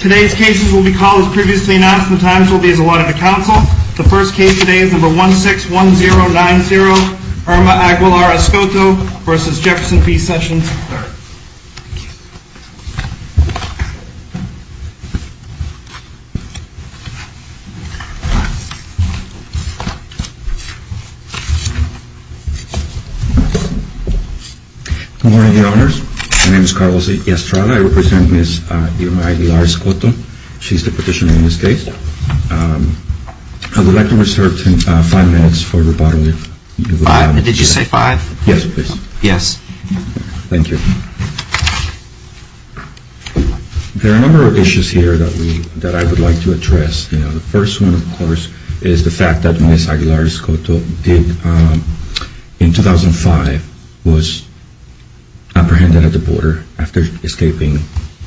Today's cases will be called as previously announced and the times will be as allotted to counsel. The first case today is number 161090, Irma Aguilar-Escoto v. Jefferson P. Sessions III. Thank you. Good morning, Your Honors. My name is Carlos Estrada. I represent Ms. Irma Aguilar-Escoto. She's the petitioner in this case. I would like to reserve five minutes for rebuttal. Five? Did you say five? Yes, please. Yes. Thank you. There are a number of issues here that I would like to address. The first one, of course, is the fact that Ms. Aguilar-Escoto, in 2005, was apprehended at the border after escaping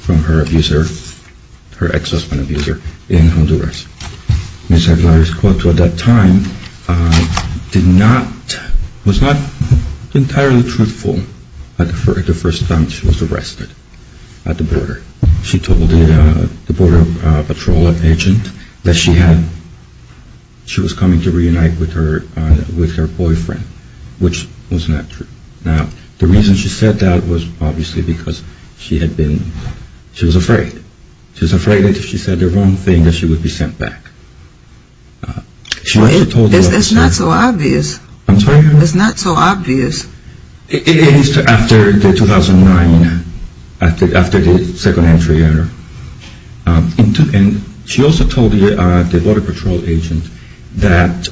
from her ex-husband abuser in Honduras. Ms. Aguilar-Escoto, at that time, was not entirely truthful at the first time she was arrested at the border. She told the border patrol agent that she was coming to reunite with her boyfriend, which was not true. Now, the reason she said that was obviously because she was afraid. She was afraid that if she said the wrong thing that she would be sent back. That's not so obvious. I'm sorry? That's not so obvious. It is after 2009, after the second entry in her. And she also told the border patrol agent that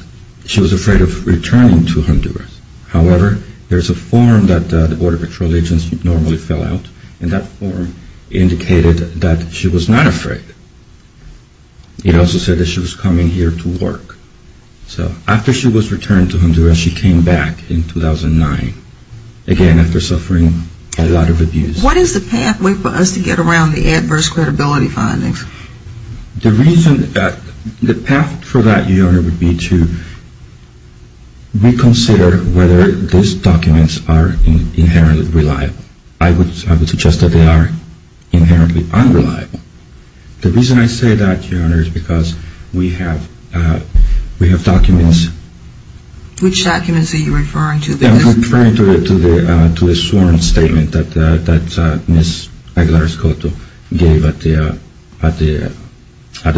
she was afraid of returning to Honduras. However, there's a form that the border patrol agents normally fill out, and that form indicated that she was not afraid. It also said that she was coming here to work. So after she was returned to Honduras, she came back in 2009. Again, after suffering a lot of abuse. What is the pathway for us to get around the adverse credibility findings? The reason that, the path for that, Your Honor, would be to reconsider whether these documents are inherently reliable. I would suggest that they are inherently unreliable. The reason I say that, Your Honor, is because we have documents. Which documents are you referring to? I'm referring to the sworn statement that Ms. Aguilar-Escoto gave at the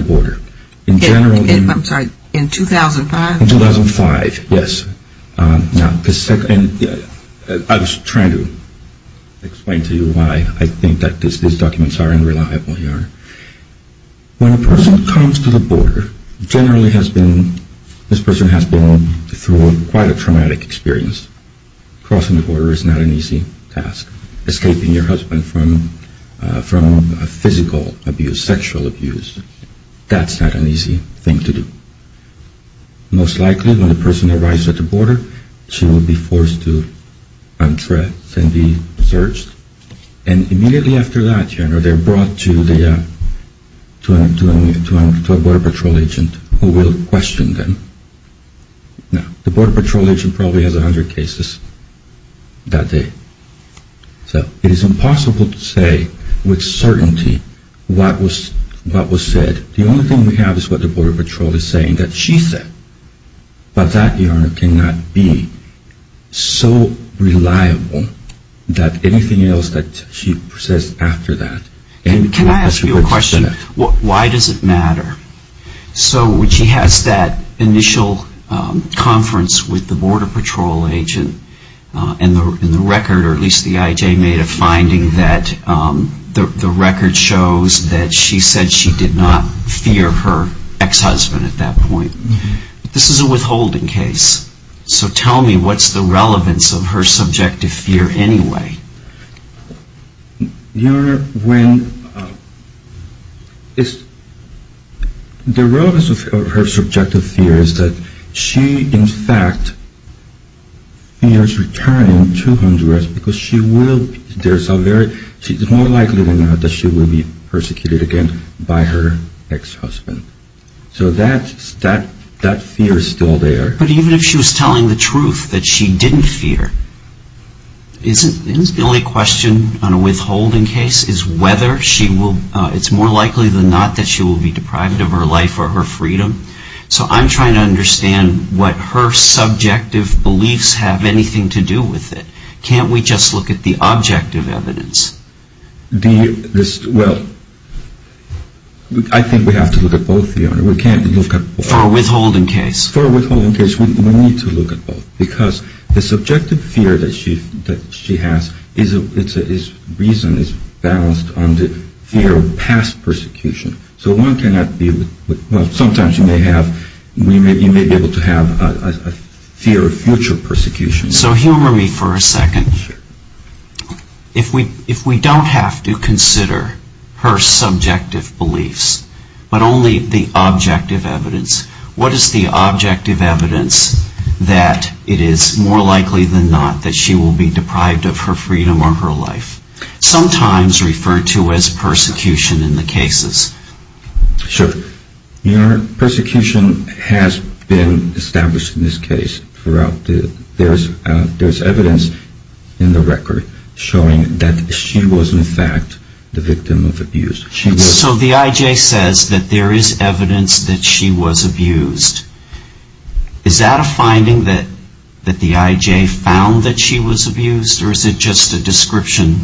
border. In general? I'm sorry, in 2005? In 2005, yes. I was trying to explain to you why I think that these documents are unreliable, Your Honor. When a person comes to the border, generally has been, this person has been through quite a traumatic experience. Crossing the border is not an easy task. Escaping your husband from physical abuse, sexual abuse, that's not an easy thing to do. Most likely, when the person arrives at the border, she will be forced to undress and be searched. And immediately after that, Your Honor, they're brought to a border patrol agent who will question them. Now, the border patrol agent probably has 100 cases that day. So, it is impossible to say with certainty what was said. The only thing we have is what the border patrol is saying that she said. But that, Your Honor, cannot be so reliable that anything else that she says after that. Can I ask you a question? Why does it matter? So, when she has that initial conference with the border patrol agent, and the record, or at least the IJ made a finding that the record shows that she said she did not fear her ex-husband at that point. This is a withholding case. So, tell me, what's the relevance of her subjective fear anyway? Your Honor, the relevance of her subjective fear is that she, in fact, fears returning to undress because she is more likely than not that she will be persecuted again by her ex-husband. So, that fear is still there. But even if she was telling the truth that she didn't fear, isn't the only question on a withholding case is whether she will, it's more likely than not that she will be deprived of her life or her freedom? So, I'm trying to understand what her subjective beliefs have anything to do with it. Can't we just look at the objective evidence? The, this, well, I think we have to look at both, Your Honor. We can't look at both. For a withholding case. For a withholding case, we need to look at both. Because the subjective fear that she has is reason is balanced on the fear of past persecution. So, one cannot be, well, sometimes you may have, you may be able to have a fear of future persecution. So, humor me for a second. If we don't have to consider her subjective beliefs, but only the objective evidence, what is the objective evidence that it is more likely than not that she will be deprived of her freedom or her life? Sometimes referred to as persecution in the cases. Sure. Your Honor, persecution has been established in this case throughout the, there's evidence in the record showing that she was in fact the victim of abuse. So, the IJ says that there is evidence that she was abused. Is that a finding that the IJ found that she was abused, or is it just a description?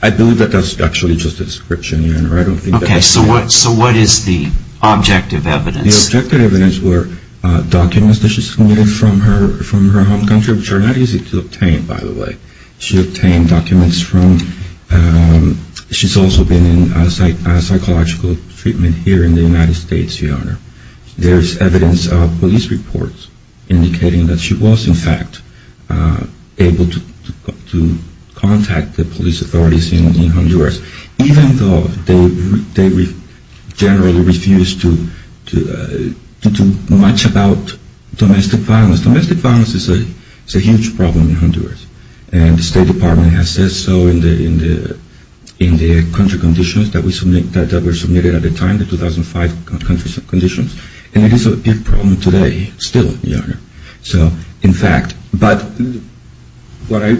I believe that that's actually just a description, Your Honor. Okay, so what is the objective evidence? The objective evidence were documents that she submitted from her home country, which are not easy to obtain, by the way. She obtained documents from, she's also been in psychological treatment here in the United States, Your Honor. There's evidence of police reports indicating that she was in fact able to contact the police authorities in Honduras, even though they generally refused to do much about domestic violence. Now, domestic violence is a huge problem in Honduras, and the State Department has said so in the country conditions that were submitted at the time, the 2005 country conditions, and it is a big problem today still, Your Honor. So, in fact, but what I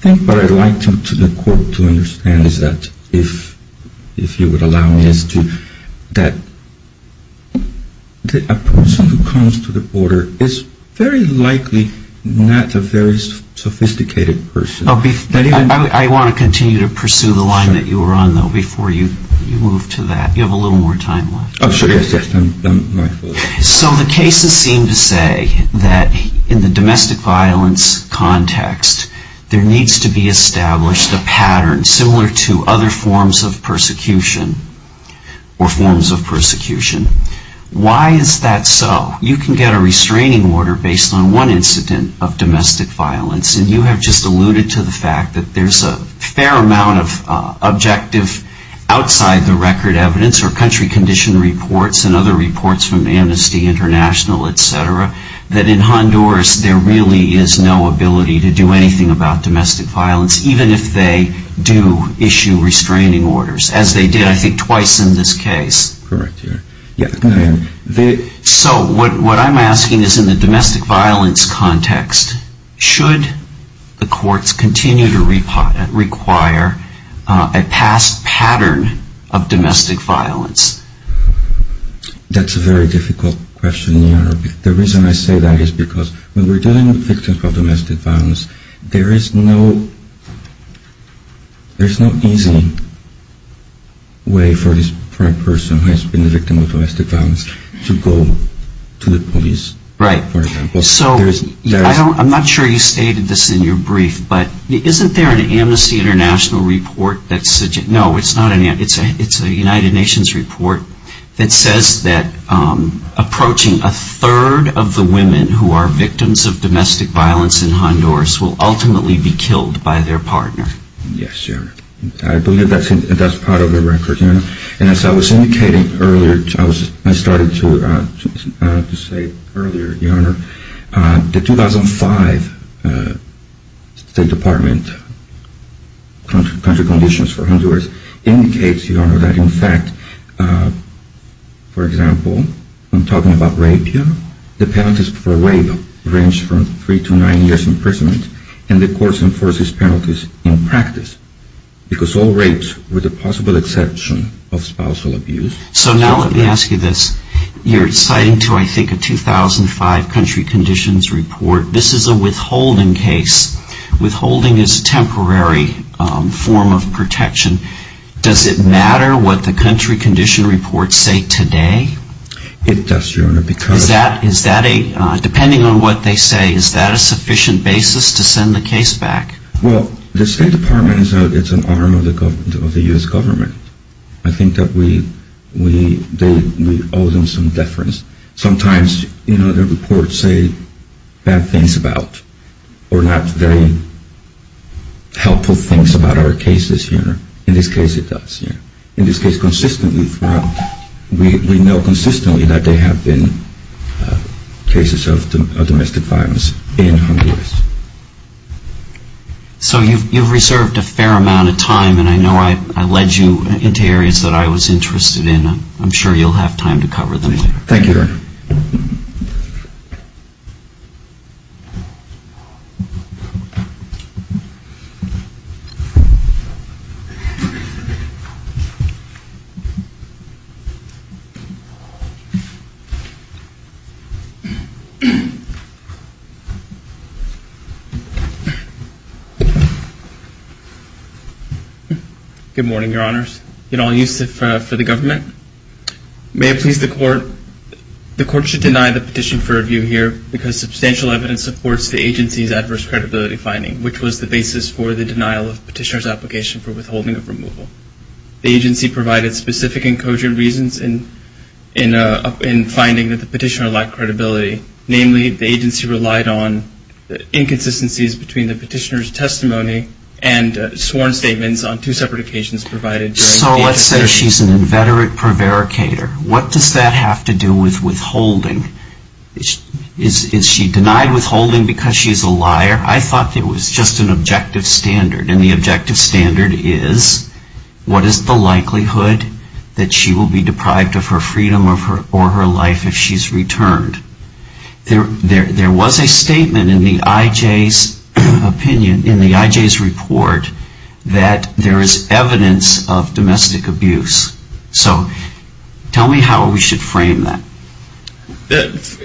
think what I'd like the court to understand is that if you would allow me, that a person who comes to the border is very likely not a very sophisticated person. I want to continue to pursue the line that you were on, though, before you move to that. You have a little more time left. Oh, sure. So the cases seem to say that in the domestic violence context, there needs to be established a pattern similar to other forms of persecution or forms of persecution. Why is that so? You can get a restraining order based on one incident of domestic violence, and you have just alluded to the fact that there's a fair amount of objective outside the record evidence or country condition reports and other reports from Amnesty International, et cetera, that in Honduras there really is no ability to do anything about domestic violence, even if they do issue restraining orders, as they did, I think, twice in this case. Correct. So what I'm asking is in the domestic violence context, should the courts continue to require a past pattern of domestic violence? That's a very difficult question, Your Honor. The reason I say that is because when we're dealing with victims of domestic violence, there is no easy way for a person who has been a victim of domestic violence to go to the police, for example. Right. So I'm not sure you stated this in your brief, but isn't there an Amnesty International report? No, it's a United Nations report that says that approaching a third of the women who are victims of domestic violence in Honduras will ultimately be killed by their partner. Yes, Your Honor. I believe that's part of the record. Yes, Your Honor. And as I was indicating earlier, I started to say earlier, Your Honor, the 2005 State Department country conditions for Honduras indicates, Your Honor, that in fact, for example, I'm talking about rape here, the penalties for rape range from three to nine years imprisonment, and the courts enforce these penalties in practice, because all rapes, with the possible exception of spousal abuse. So now let me ask you this. You're citing to, I think, a 2005 country conditions report. This is a withholding case. Withholding is a temporary form of protection. Does it matter what the country condition reports say today? It does, Your Honor. Depending on what they say, is that a sufficient basis to send the case back? Well, the State Department is an arm of the U.S. government. I think that we owe them some deference. Sometimes, you know, the reports say bad things about, or not very helpful things about our cases, Your Honor. In this case, consistently, we know consistently that there have been cases of domestic violence in Honduras. So you've reserved a fair amount of time, and I know I led you into areas that I was interested in. I'm sure you'll have time to cover them. Thank you, Your Honor. Good morning, Your Honors. Yudol Yusuf for the government. May it please the Court, the Court should deny the petition for review here because substantial evidence supports the agency's adverse credibility finding, which was the basis for the denial of petitioner's application for withholding of removal. The agency provided specific and cogent reasons in finding that the petitioner lacked credibility. Namely, the agency relied on inconsistencies between the petitioner's testimony and sworn statements on two separate occasions provided during the investigation. So let's say she's an inveterate prevaricator. What does that have to do with withholding? Is she denied withholding because she's a liar? I thought it was just an objective standard, and the objective standard is, what is the likelihood that she will be deprived of her freedom or her life if she's returned? There was a statement in the IJ's opinion, in the IJ's report, that there is evidence of domestic abuse. So tell me how we should frame that.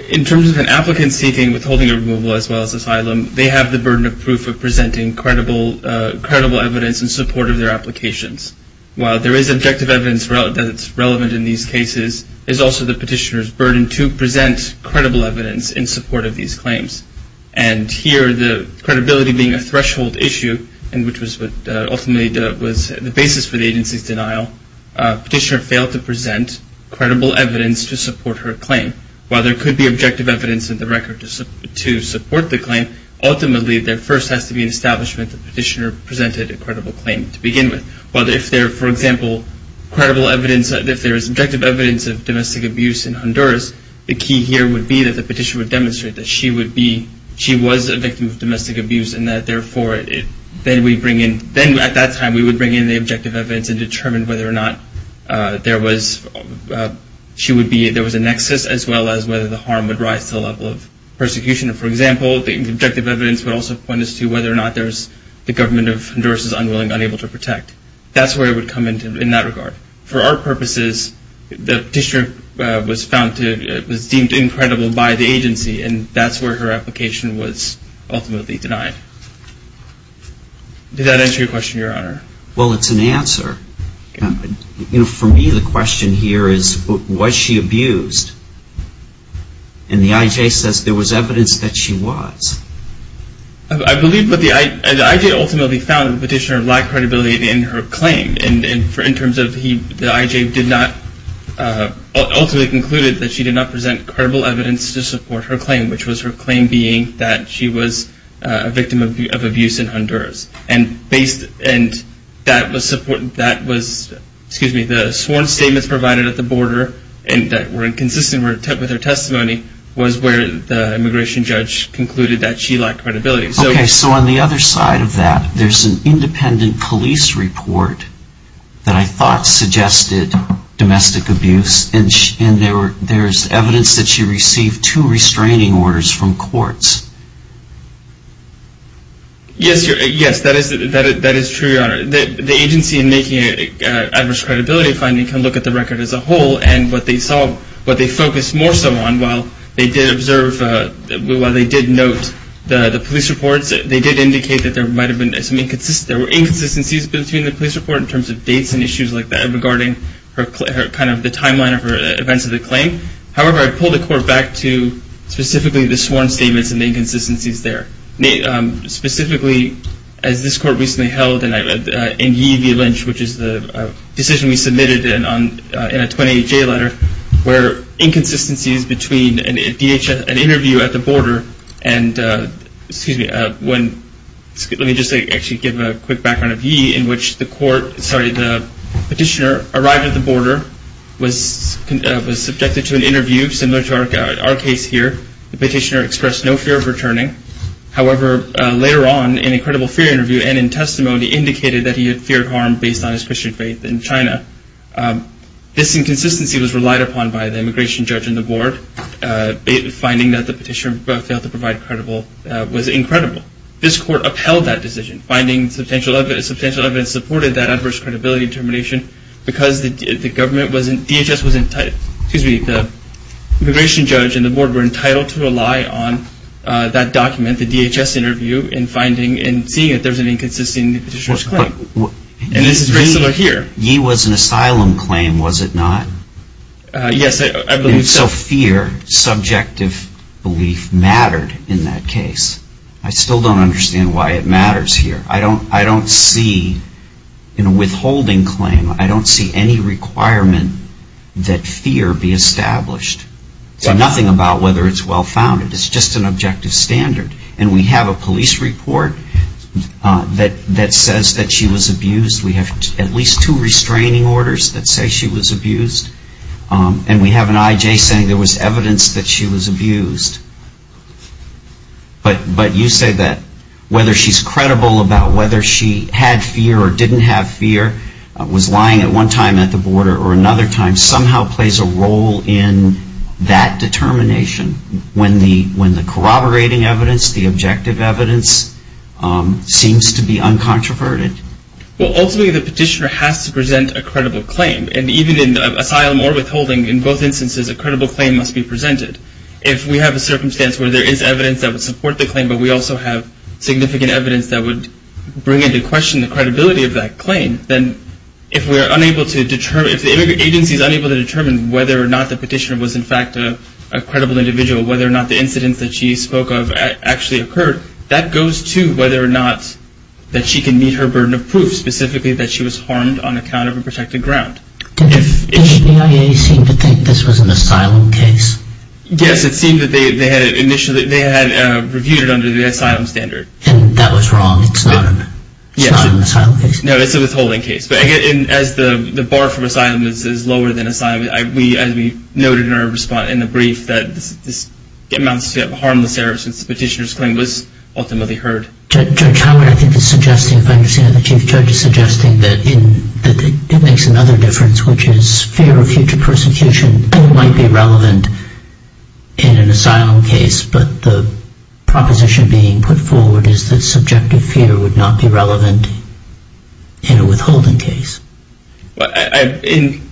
In terms of an applicant seeking withholding of removal as well as asylum, they have the burden of proof of presenting credible evidence in support of their applications. While there is objective evidence that's relevant in these cases, there's also the petitioner's burden to present credible evidence in support of these claims. And here, the credibility being a threshold issue, and which was ultimately the basis for the agency's denial, petitioner failed to present credible evidence to support her claim. While there could be objective evidence in the record to support the claim, ultimately there first has to be an establishment that the petitioner presented a credible claim to begin with. But if there, for example, credible evidence, if there is objective evidence of domestic abuse in Honduras, the key here would be that the petitioner would demonstrate that she was a victim of domestic abuse and that therefore then at that time we would bring in the objective evidence and determine whether or not there was a nexus as well as whether the harm would rise to the level of persecution. For example, the objective evidence would also point us to whether or not the government of Honduras is unwilling, unable to protect. That's where it would come into, in that regard. For our purposes, the petitioner was deemed incredible by the agency, and that's where her application was ultimately denied. Did that answer your question, Your Honor? Well, it's an answer. For me, the question here is, was she abused? And the IJ says there was evidence that she was. I believe that the IJ ultimately found that the petitioner lacked credibility in her claim, and in terms of the IJ ultimately concluded that she did not present credible evidence to support her claim, which was her claim being that she was a victim of abuse in Honduras. And that was, excuse me, the sworn statements provided at the border that were inconsistent with her testimony was where the immigration judge concluded that she lacked credibility. Okay, so on the other side of that, there's an independent police report that I thought suggested domestic abuse, and there's evidence that she received two restraining orders from courts. Yes, that is true, Your Honor. The agency in making an adverse credibility finding can look at the record as a whole, and what they focused more so on while they did observe, while they did note the police reports, they did indicate that there were inconsistencies between the police report in terms of dates and issues like that regarding kind of the timeline of her events of the claim. However, I pulled the court back to specifically the sworn statements and the inconsistencies there. Specifically, as this court recently held in Yee v. Lynch, which is the decision we submitted in a 2018 letter where inconsistencies between an interview at the border and, excuse me, let me just actually give a quick background of Yee in which the court, sorry, the petitioner arrived at the border, was subjected to an interview similar to our case here. The petitioner expressed no fear of returning. However, later on, in a credible fear interview and in testimony, he indicated that he had feared harm based on his Christian faith in China. This inconsistency was relied upon by the immigration judge and the board. Finding that the petitioner failed to provide credible was incredible. This court upheld that decision. Finding substantial evidence supported that adverse credibility determination because the government wasn't, excuse me, the immigration judge and the board were entitled to rely on that document, the DHS interview, in finding and seeing that there was an inconsistency in the petitioner's claim. And this is very similar here. Yee was an asylum claim, was it not? Yes, I believe so. And so fear, subjective belief, mattered in that case. I still don't understand why it matters here. I don't see, in a withholding claim, I don't see any requirement that fear be established. It's nothing about whether it's well-founded. It's just an objective standard. And we have a police report that says that she was abused. We have at least two restraining orders that say she was abused. And we have an IJ saying there was evidence that she was abused. But you say that whether she's credible about whether she had fear or didn't have fear, was lying at one time at the border or another time, somehow plays a role in that determination when the corroborating evidence, the objective evidence, seems to be uncontroverted. Well, ultimately, the petitioner has to present a credible claim. And even in asylum or withholding, in both instances, a credible claim must be presented. If we have a circumstance where there is evidence that would support the claim, but we also have significant evidence that would bring into question the credibility of that claim, then if we are unable to determine, if the agency is unable to determine whether or not the petitioner was, in fact, a credible individual, whether or not the incidents that she spoke of actually occurred, that goes to whether or not that she can meet her burden of proof, specifically that she was harmed on account of a protected ground. Did the EIA seem to think this was an asylum case? Yes, it seemed that they had initially reviewed it under the asylum standard. And that was wrong? It's not an asylum case? No, it's a withholding case. But again, as the bar for asylum is lower than asylum, as we noted in our response in the brief, that this amounts to a harmless error since the petitioner's claim was ultimately heard. Judge Howard, I think you're suggesting that it makes another difference, which is fear of future persecution might be relevant in an asylum case, but the proposition being put forward is that subjective fear would not be relevant in a withholding case. In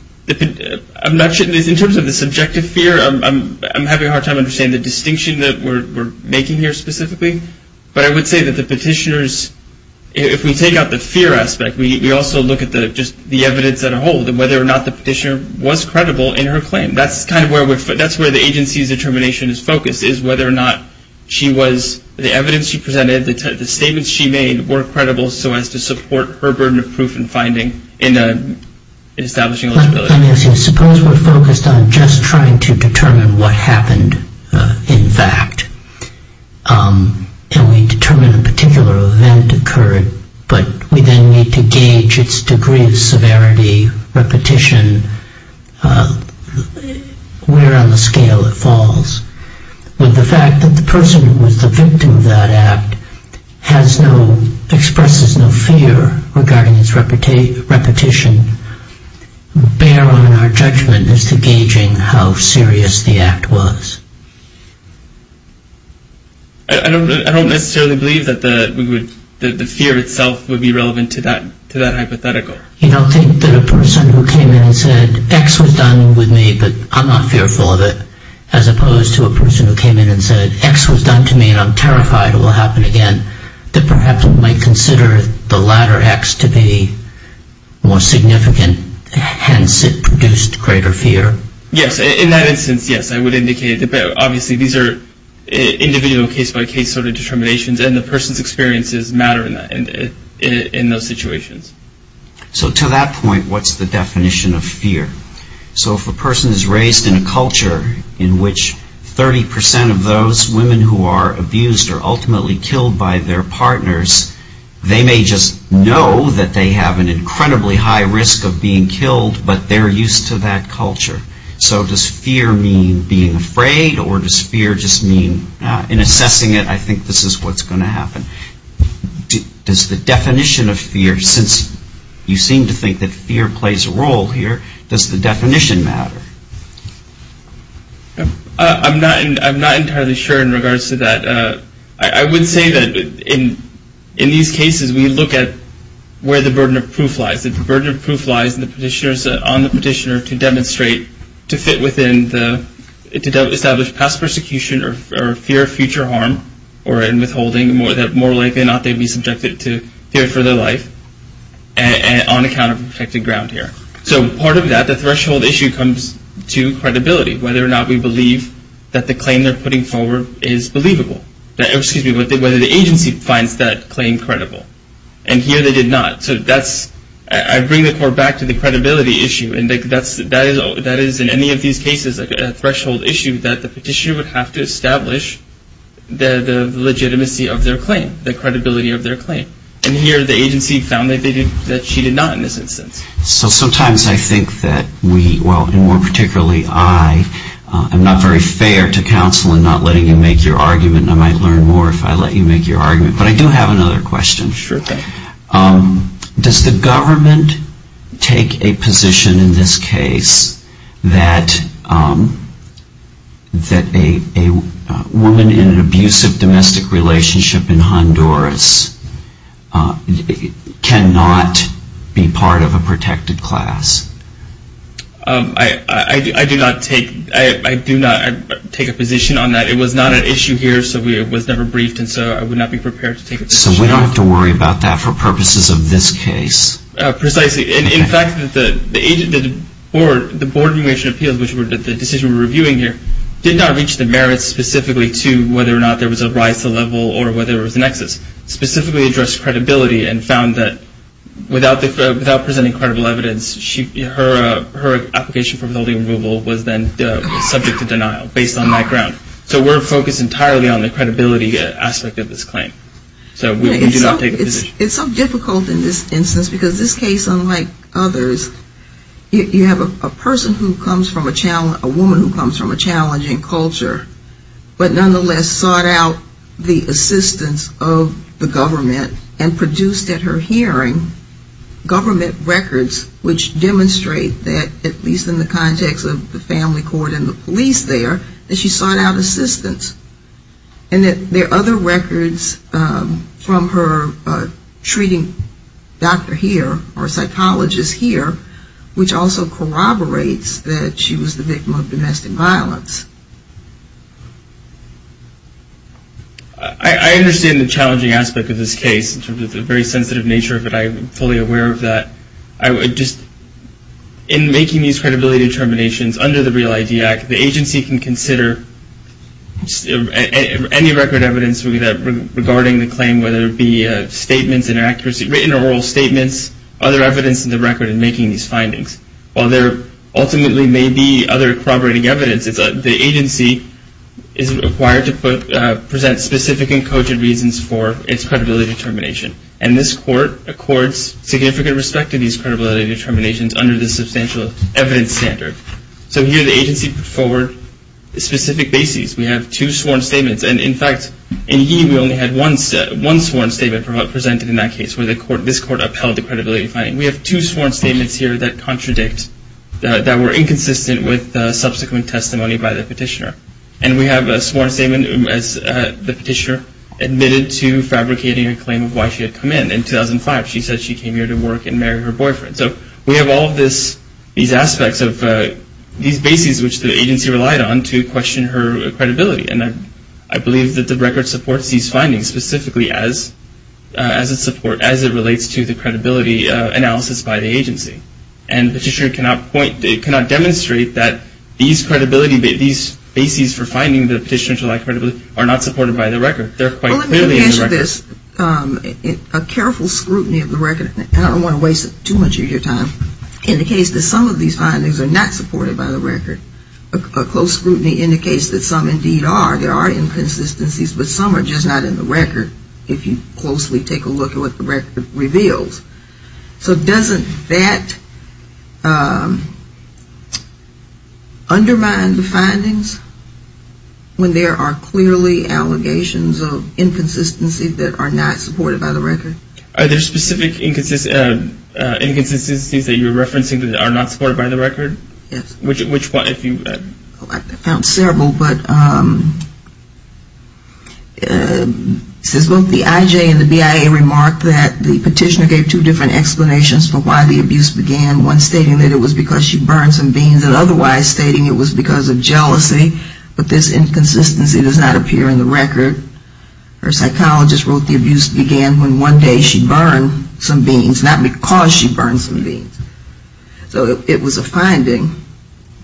terms of the subjective fear, I'm having a hard time understanding the distinction that we're making here specifically. But I would say that the petitioners, if we take out the fear aspect, we also look at just the evidence as a whole, whether or not the petitioner was credible in her claim. That's kind of where the agency's determination is focused, is whether or not the evidence she presented, the statements she made, were credible so as to support her burden of proof and finding in establishing eligibility. Suppose we're focused on just trying to determine what happened in fact, and we determine a particular event occurred, but we then need to gauge its degree of severity, repetition, where on the scale it falls. Would the fact that the person who was the victim of that act expresses no fear regarding its repetition bear on our judgment as to gauging how serious the act was? I don't necessarily believe that the fear itself would be relevant to that hypothetical. You don't think that a person who came in and said, X was done with me, but I'm not fearful of it, as opposed to a person who came in and said, X was done to me and I'm terrified it will happen again, that perhaps might consider the latter X to be more significant, hence it produced greater fear? Yes, in that instance, yes, I would indicate that, but obviously these are individual case-by-case sort of determinations, and the person's experiences matter in those situations. So to that point, what's the definition of fear? So if a person is raised in a culture in which 30% of those women who are abused are ultimately killed by their partners, they may just know that they have an incredibly high risk of being killed, but they're used to that culture. So does fear mean being afraid, or does fear just mean, in assessing it, I think this is what's going to happen. Does the definition of fear, since you seem to think that fear plays a role here, does the definition matter? I'm not entirely sure in regards to that. I would say that in these cases, we look at where the burden of proof lies. If the burden of proof lies on the petitioner to demonstrate, to fit within, to establish past persecution or fear of future harm, or in withholding, that more likely than not, they'd be subjected to fear for their life on account of protected ground here. So part of that, the threshold issue, comes to credibility, whether or not we believe that the claim they're putting forward is believable. Excuse me, whether the agency finds that claim credible. And here they did not. So I bring the court back to the credibility issue, and that is, in any of these cases, a threshold issue that the petitioner would have to establish the legitimacy of their claim, the credibility of their claim. And here the agency found that she did not in this instance. So sometimes I think that we, well, and more particularly I, I'm not very fair to counsel in not letting you make your argument, and I might learn more if I let you make your argument. But I do have another question. Sure thing. Does the government take a position in this case that a woman in an abusive domestic relationship in Honduras cannot be part of a protected class? I do not take a position on that. It was not an issue here, so it was never briefed, and so I would not be prepared to take a position. So we don't have to worry about that for purposes of this case. Precisely. In fact, the Board of Immigration Appeals, which the decision we're reviewing here, did not reach the merits specifically to whether or not there was a rise to the level or whether there was an excess. It specifically addressed credibility and found that without presenting credible evidence, her application for withholding removal was then subject to denial based on that ground. So we're focused entirely on the credibility aspect of this claim. So we do not take a position. It's so difficult in this instance because this case, unlike others, you have a person who comes from a challenge, a woman who comes from a challenging culture, but nonetheless sought out the assistance of the government and produced at her hearing government records which demonstrate that, at least in the context of the family court and the police there, that she sought out assistance. And that there are other records from her treating doctor here or psychologist here, which also corroborates that she was the victim of domestic violence. I understand the challenging aspect of this case in terms of the very sensitive nature of it. I'm fully aware of that. In making these credibility determinations under the REAL ID Act, the agency can consider any record evidence regarding the claim, whether it be statements, inaccuracy, written or oral statements, other evidence in the record in making these findings. While there ultimately may be other corroborating evidence, the agency is required to present specific and cogent reasons for its credibility determination. And this court accords significant respect to these credibility determinations under the substantial evidence standard. So here the agency put forward specific bases. We have two sworn statements. And, in fact, in Yee we only had one sworn statement presented in that case, where this court upheld the credibility finding. We have two sworn statements here that contradict, that were inconsistent with subsequent testimony by the petitioner. And we have a sworn statement as the petitioner admitted to fabricating a claim of why she had come in in 2005. She said she came here to work and marry her boyfriend. So we have all of these aspects of these bases which the agency relied on to question her credibility. And I believe that the record supports these findings specifically as it relates to the credibility analysis by the agency. And the petitioner cannot point, cannot demonstrate that these credibility, these bases for finding the petitioner to lack credibility are not supported by the record. They're quite clearly in the record. Well, let me just mention this. A careful scrutiny of the record, and I don't want to waste too much of your time, indicates that some of these findings are not supported by the record. A close scrutiny indicates that some indeed are. There are inconsistencies, but some are just not in the record, if you closely take a look at what the record reveals. So doesn't that undermine the findings when there are clearly allegations of inconsistencies that are not supported by the record? Are there specific inconsistencies that you're referencing that are not supported by the record? Yes. Which one? I found several, but both the IJ and the BIA remarked that the petitioner gave two different explanations for why the abuse began. One stating that it was because she burned some beans, and otherwise stating it was because of jealousy. But this inconsistency does not appear in the record. Her psychologist wrote the abuse began when one day she burned some beans, not because she burned some beans. So it was a finding,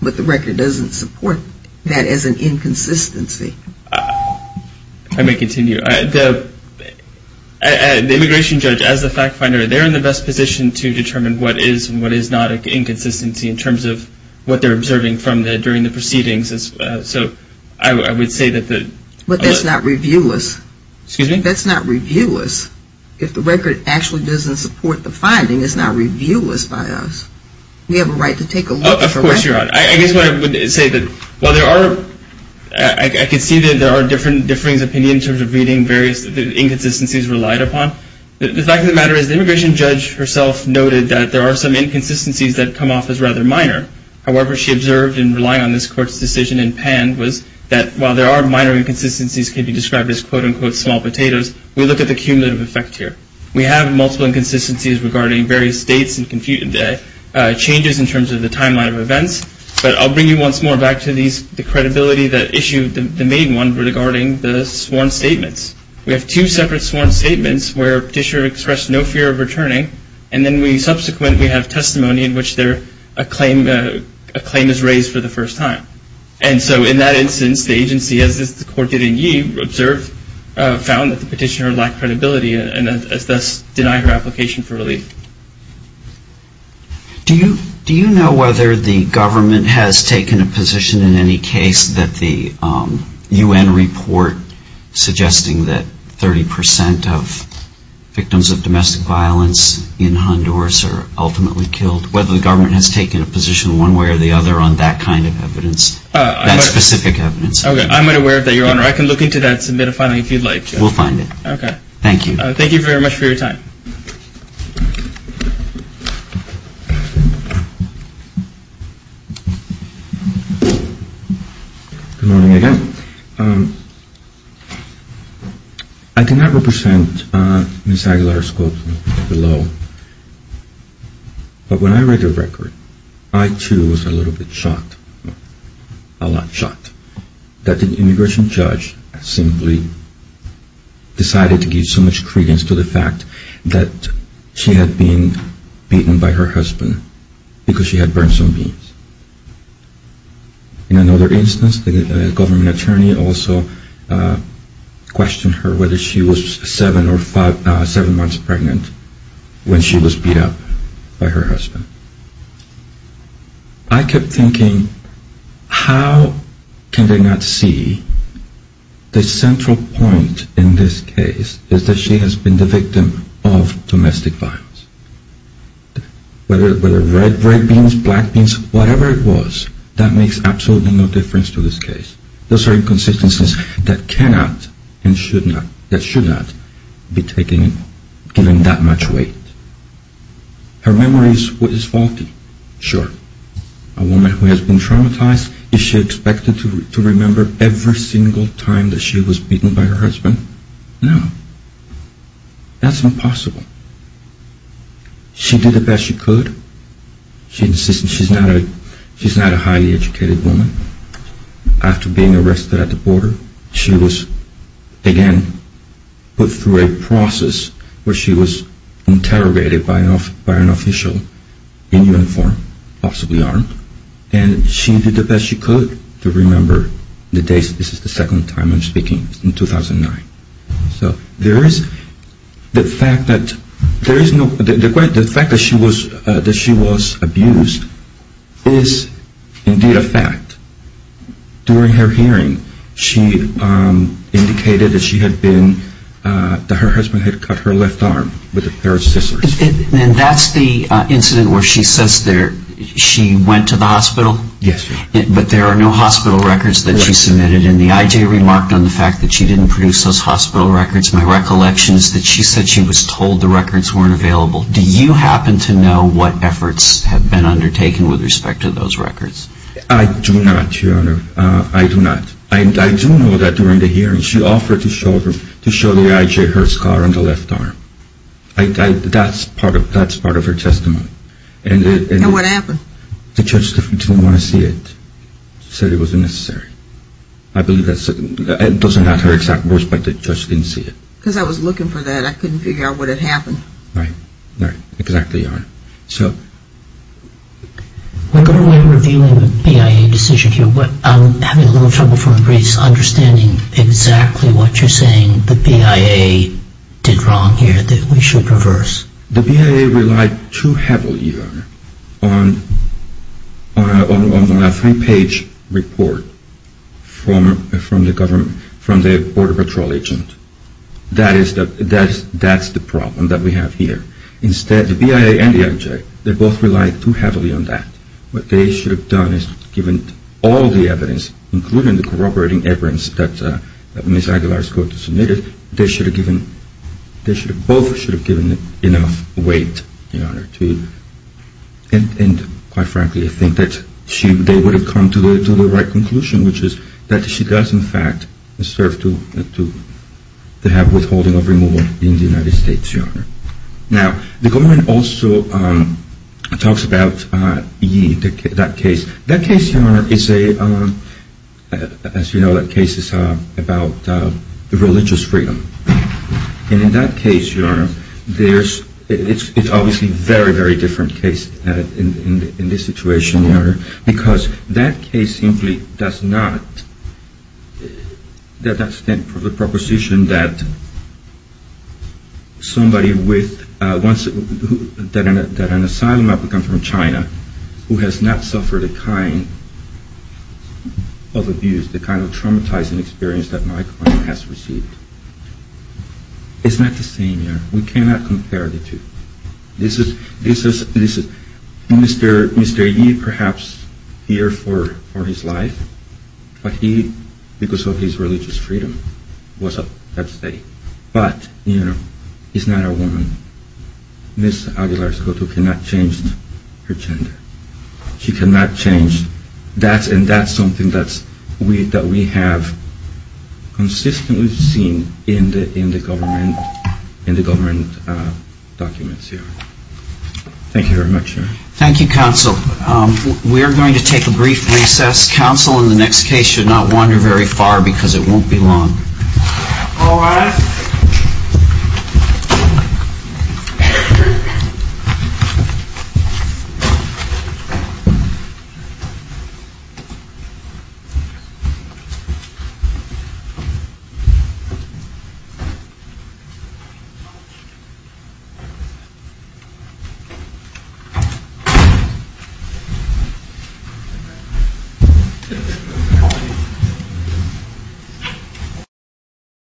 but the record doesn't support that as an inconsistency. If I may continue. The immigration judge, as the fact finder, they're in the best position to determine what is and what is not an inconsistency in terms of what they're observing during the proceedings. So I would say that the... But that's not reviewless. Excuse me? That's not reviewless. If the record actually doesn't support the finding, it's not reviewless by us. We have a right to take a look at the record. Of course you're right. I guess what I would say that while there are... I can see that there are differing opinions in terms of reading various inconsistencies relied upon. The fact of the matter is the immigration judge herself noted that there are some inconsistencies that come off as rather minor. However, she observed in relying on this court's decision in PAN was that while there are minor inconsistencies that can be described as quote-unquote small potatoes, we look at the cumulative effect here. We have multiple inconsistencies regarding various dates and changes in terms of the timeline of events. But I'll bring you once more back to the credibility that issued the main one regarding the sworn statements. We have two separate sworn statements where Petitioner expressed no fear of returning. And then we subsequently have testimony in which a claim is raised for the first time. And so in that instance, the agency, as the court did in Yee, observed, found that the petitioner lacked credibility and thus denied her application for relief. Do you know whether the government has taken a position in any case that the U.N. report suggesting that 30% of victims of domestic violence in Honduras are ultimately killed, whether the government has taken a position one way or the other on that kind of evidence, that specific evidence? I'm not aware of that, Your Honor. I can look into that and submit a filing if you'd like. We'll find it. Okay. Thank you. Thank you very much for your time. Good morning again. I cannot represent Ms. Aguilar's quote below, but when I read the record, I too was a little bit shocked, a lot shocked, that the immigration judge simply decided to give so much credence to the fact that she had been beaten by her husband because she had burned some beans. In another instance, the government attorney also questioned her whether she was seven months pregnant when she was beat up by her husband. I kept thinking, how can they not see the central point in this case is that she has been the victim of domestic violence, whether red beans, black beans, whatever it was, that makes absolutely no difference to this case. Those are inconsistencies that cannot and should not be given that much weight. Her memory is faulty, sure. A woman who has been traumatized, is she expected to remember every single time that she was beaten by her husband? No. That's impossible. She did the best she could. She's not a highly educated woman. After being arrested at the border, she was again put through a process where she was interrogated by an official in uniform, possibly armed, and she did the best she could to remember the days. This is the second time I'm speaking, in 2009. The fact that she was abused is indeed a fact. During her hearing, she indicated that her husband had cut her left arm with a pair of scissors. And that's the incident where she says she went to the hospital? Yes. But there are no hospital records that she submitted. And the IJ remarked on the fact that she didn't produce those hospital records. My recollection is that she said she was told the records weren't available. Do you happen to know what efforts have been undertaken with respect to those records? I do not, Your Honor. I do not. I do know that during the hearing, she offered to show the IJ her scar on the left arm. That's part of her testimony. And what happened? The judge didn't want to see it. She said it wasn't necessary. I believe that's certain. It doesn't have her exact voice, but the judge didn't see it. Because I was looking for that. I couldn't figure out what had happened. Right. Right. Exactly, Your Honor. So. We're reviewing the BIA decision here, but I'm having a little trouble from the briefs understanding exactly what you're saying the BIA did wrong here that we should reverse. The BIA relied too heavily, Your Honor, on a three-page report from the Border Patrol agent. That's the problem that we have here. Instead, the BIA and the IJ, they both relied too heavily on that. What they should have done is given all the evidence, including the corroborating evidence that Ms. Aguilar submitted, they both should have given enough weight, Your Honor. And quite frankly, I think that they would have come to the right conclusion, which is that she does, in fact, serve to have withholding of removal in the United States, Your Honor. Now, the government also talks about Yee, that case. That case, Your Honor, is a, as you know, that case is about religious freedom. And in that case, Your Honor, it's obviously a very, very different case in this situation, Your Honor, because that case simply does not, that's the proposition that somebody with, that an asylum applicant from China who has not suffered the kind of abuse, the kind of traumatizing experience that my client has received. It's not the same, Your Honor. We cannot compare the two. This is, Mr. Yee perhaps here for his life, but he, because of his religious freedom, was up at the state. But, you know, he's not a woman. Ms. Aguilar-Escoto cannot change her gender. She cannot change, and that's something that we have consistently seen in the government documents here. Thank you very much, Your Honor. Thank you, Counsel. We are going to take a brief recess. Counsel, in the next case, should not wander very far because it won't be long. All rise. Thank you.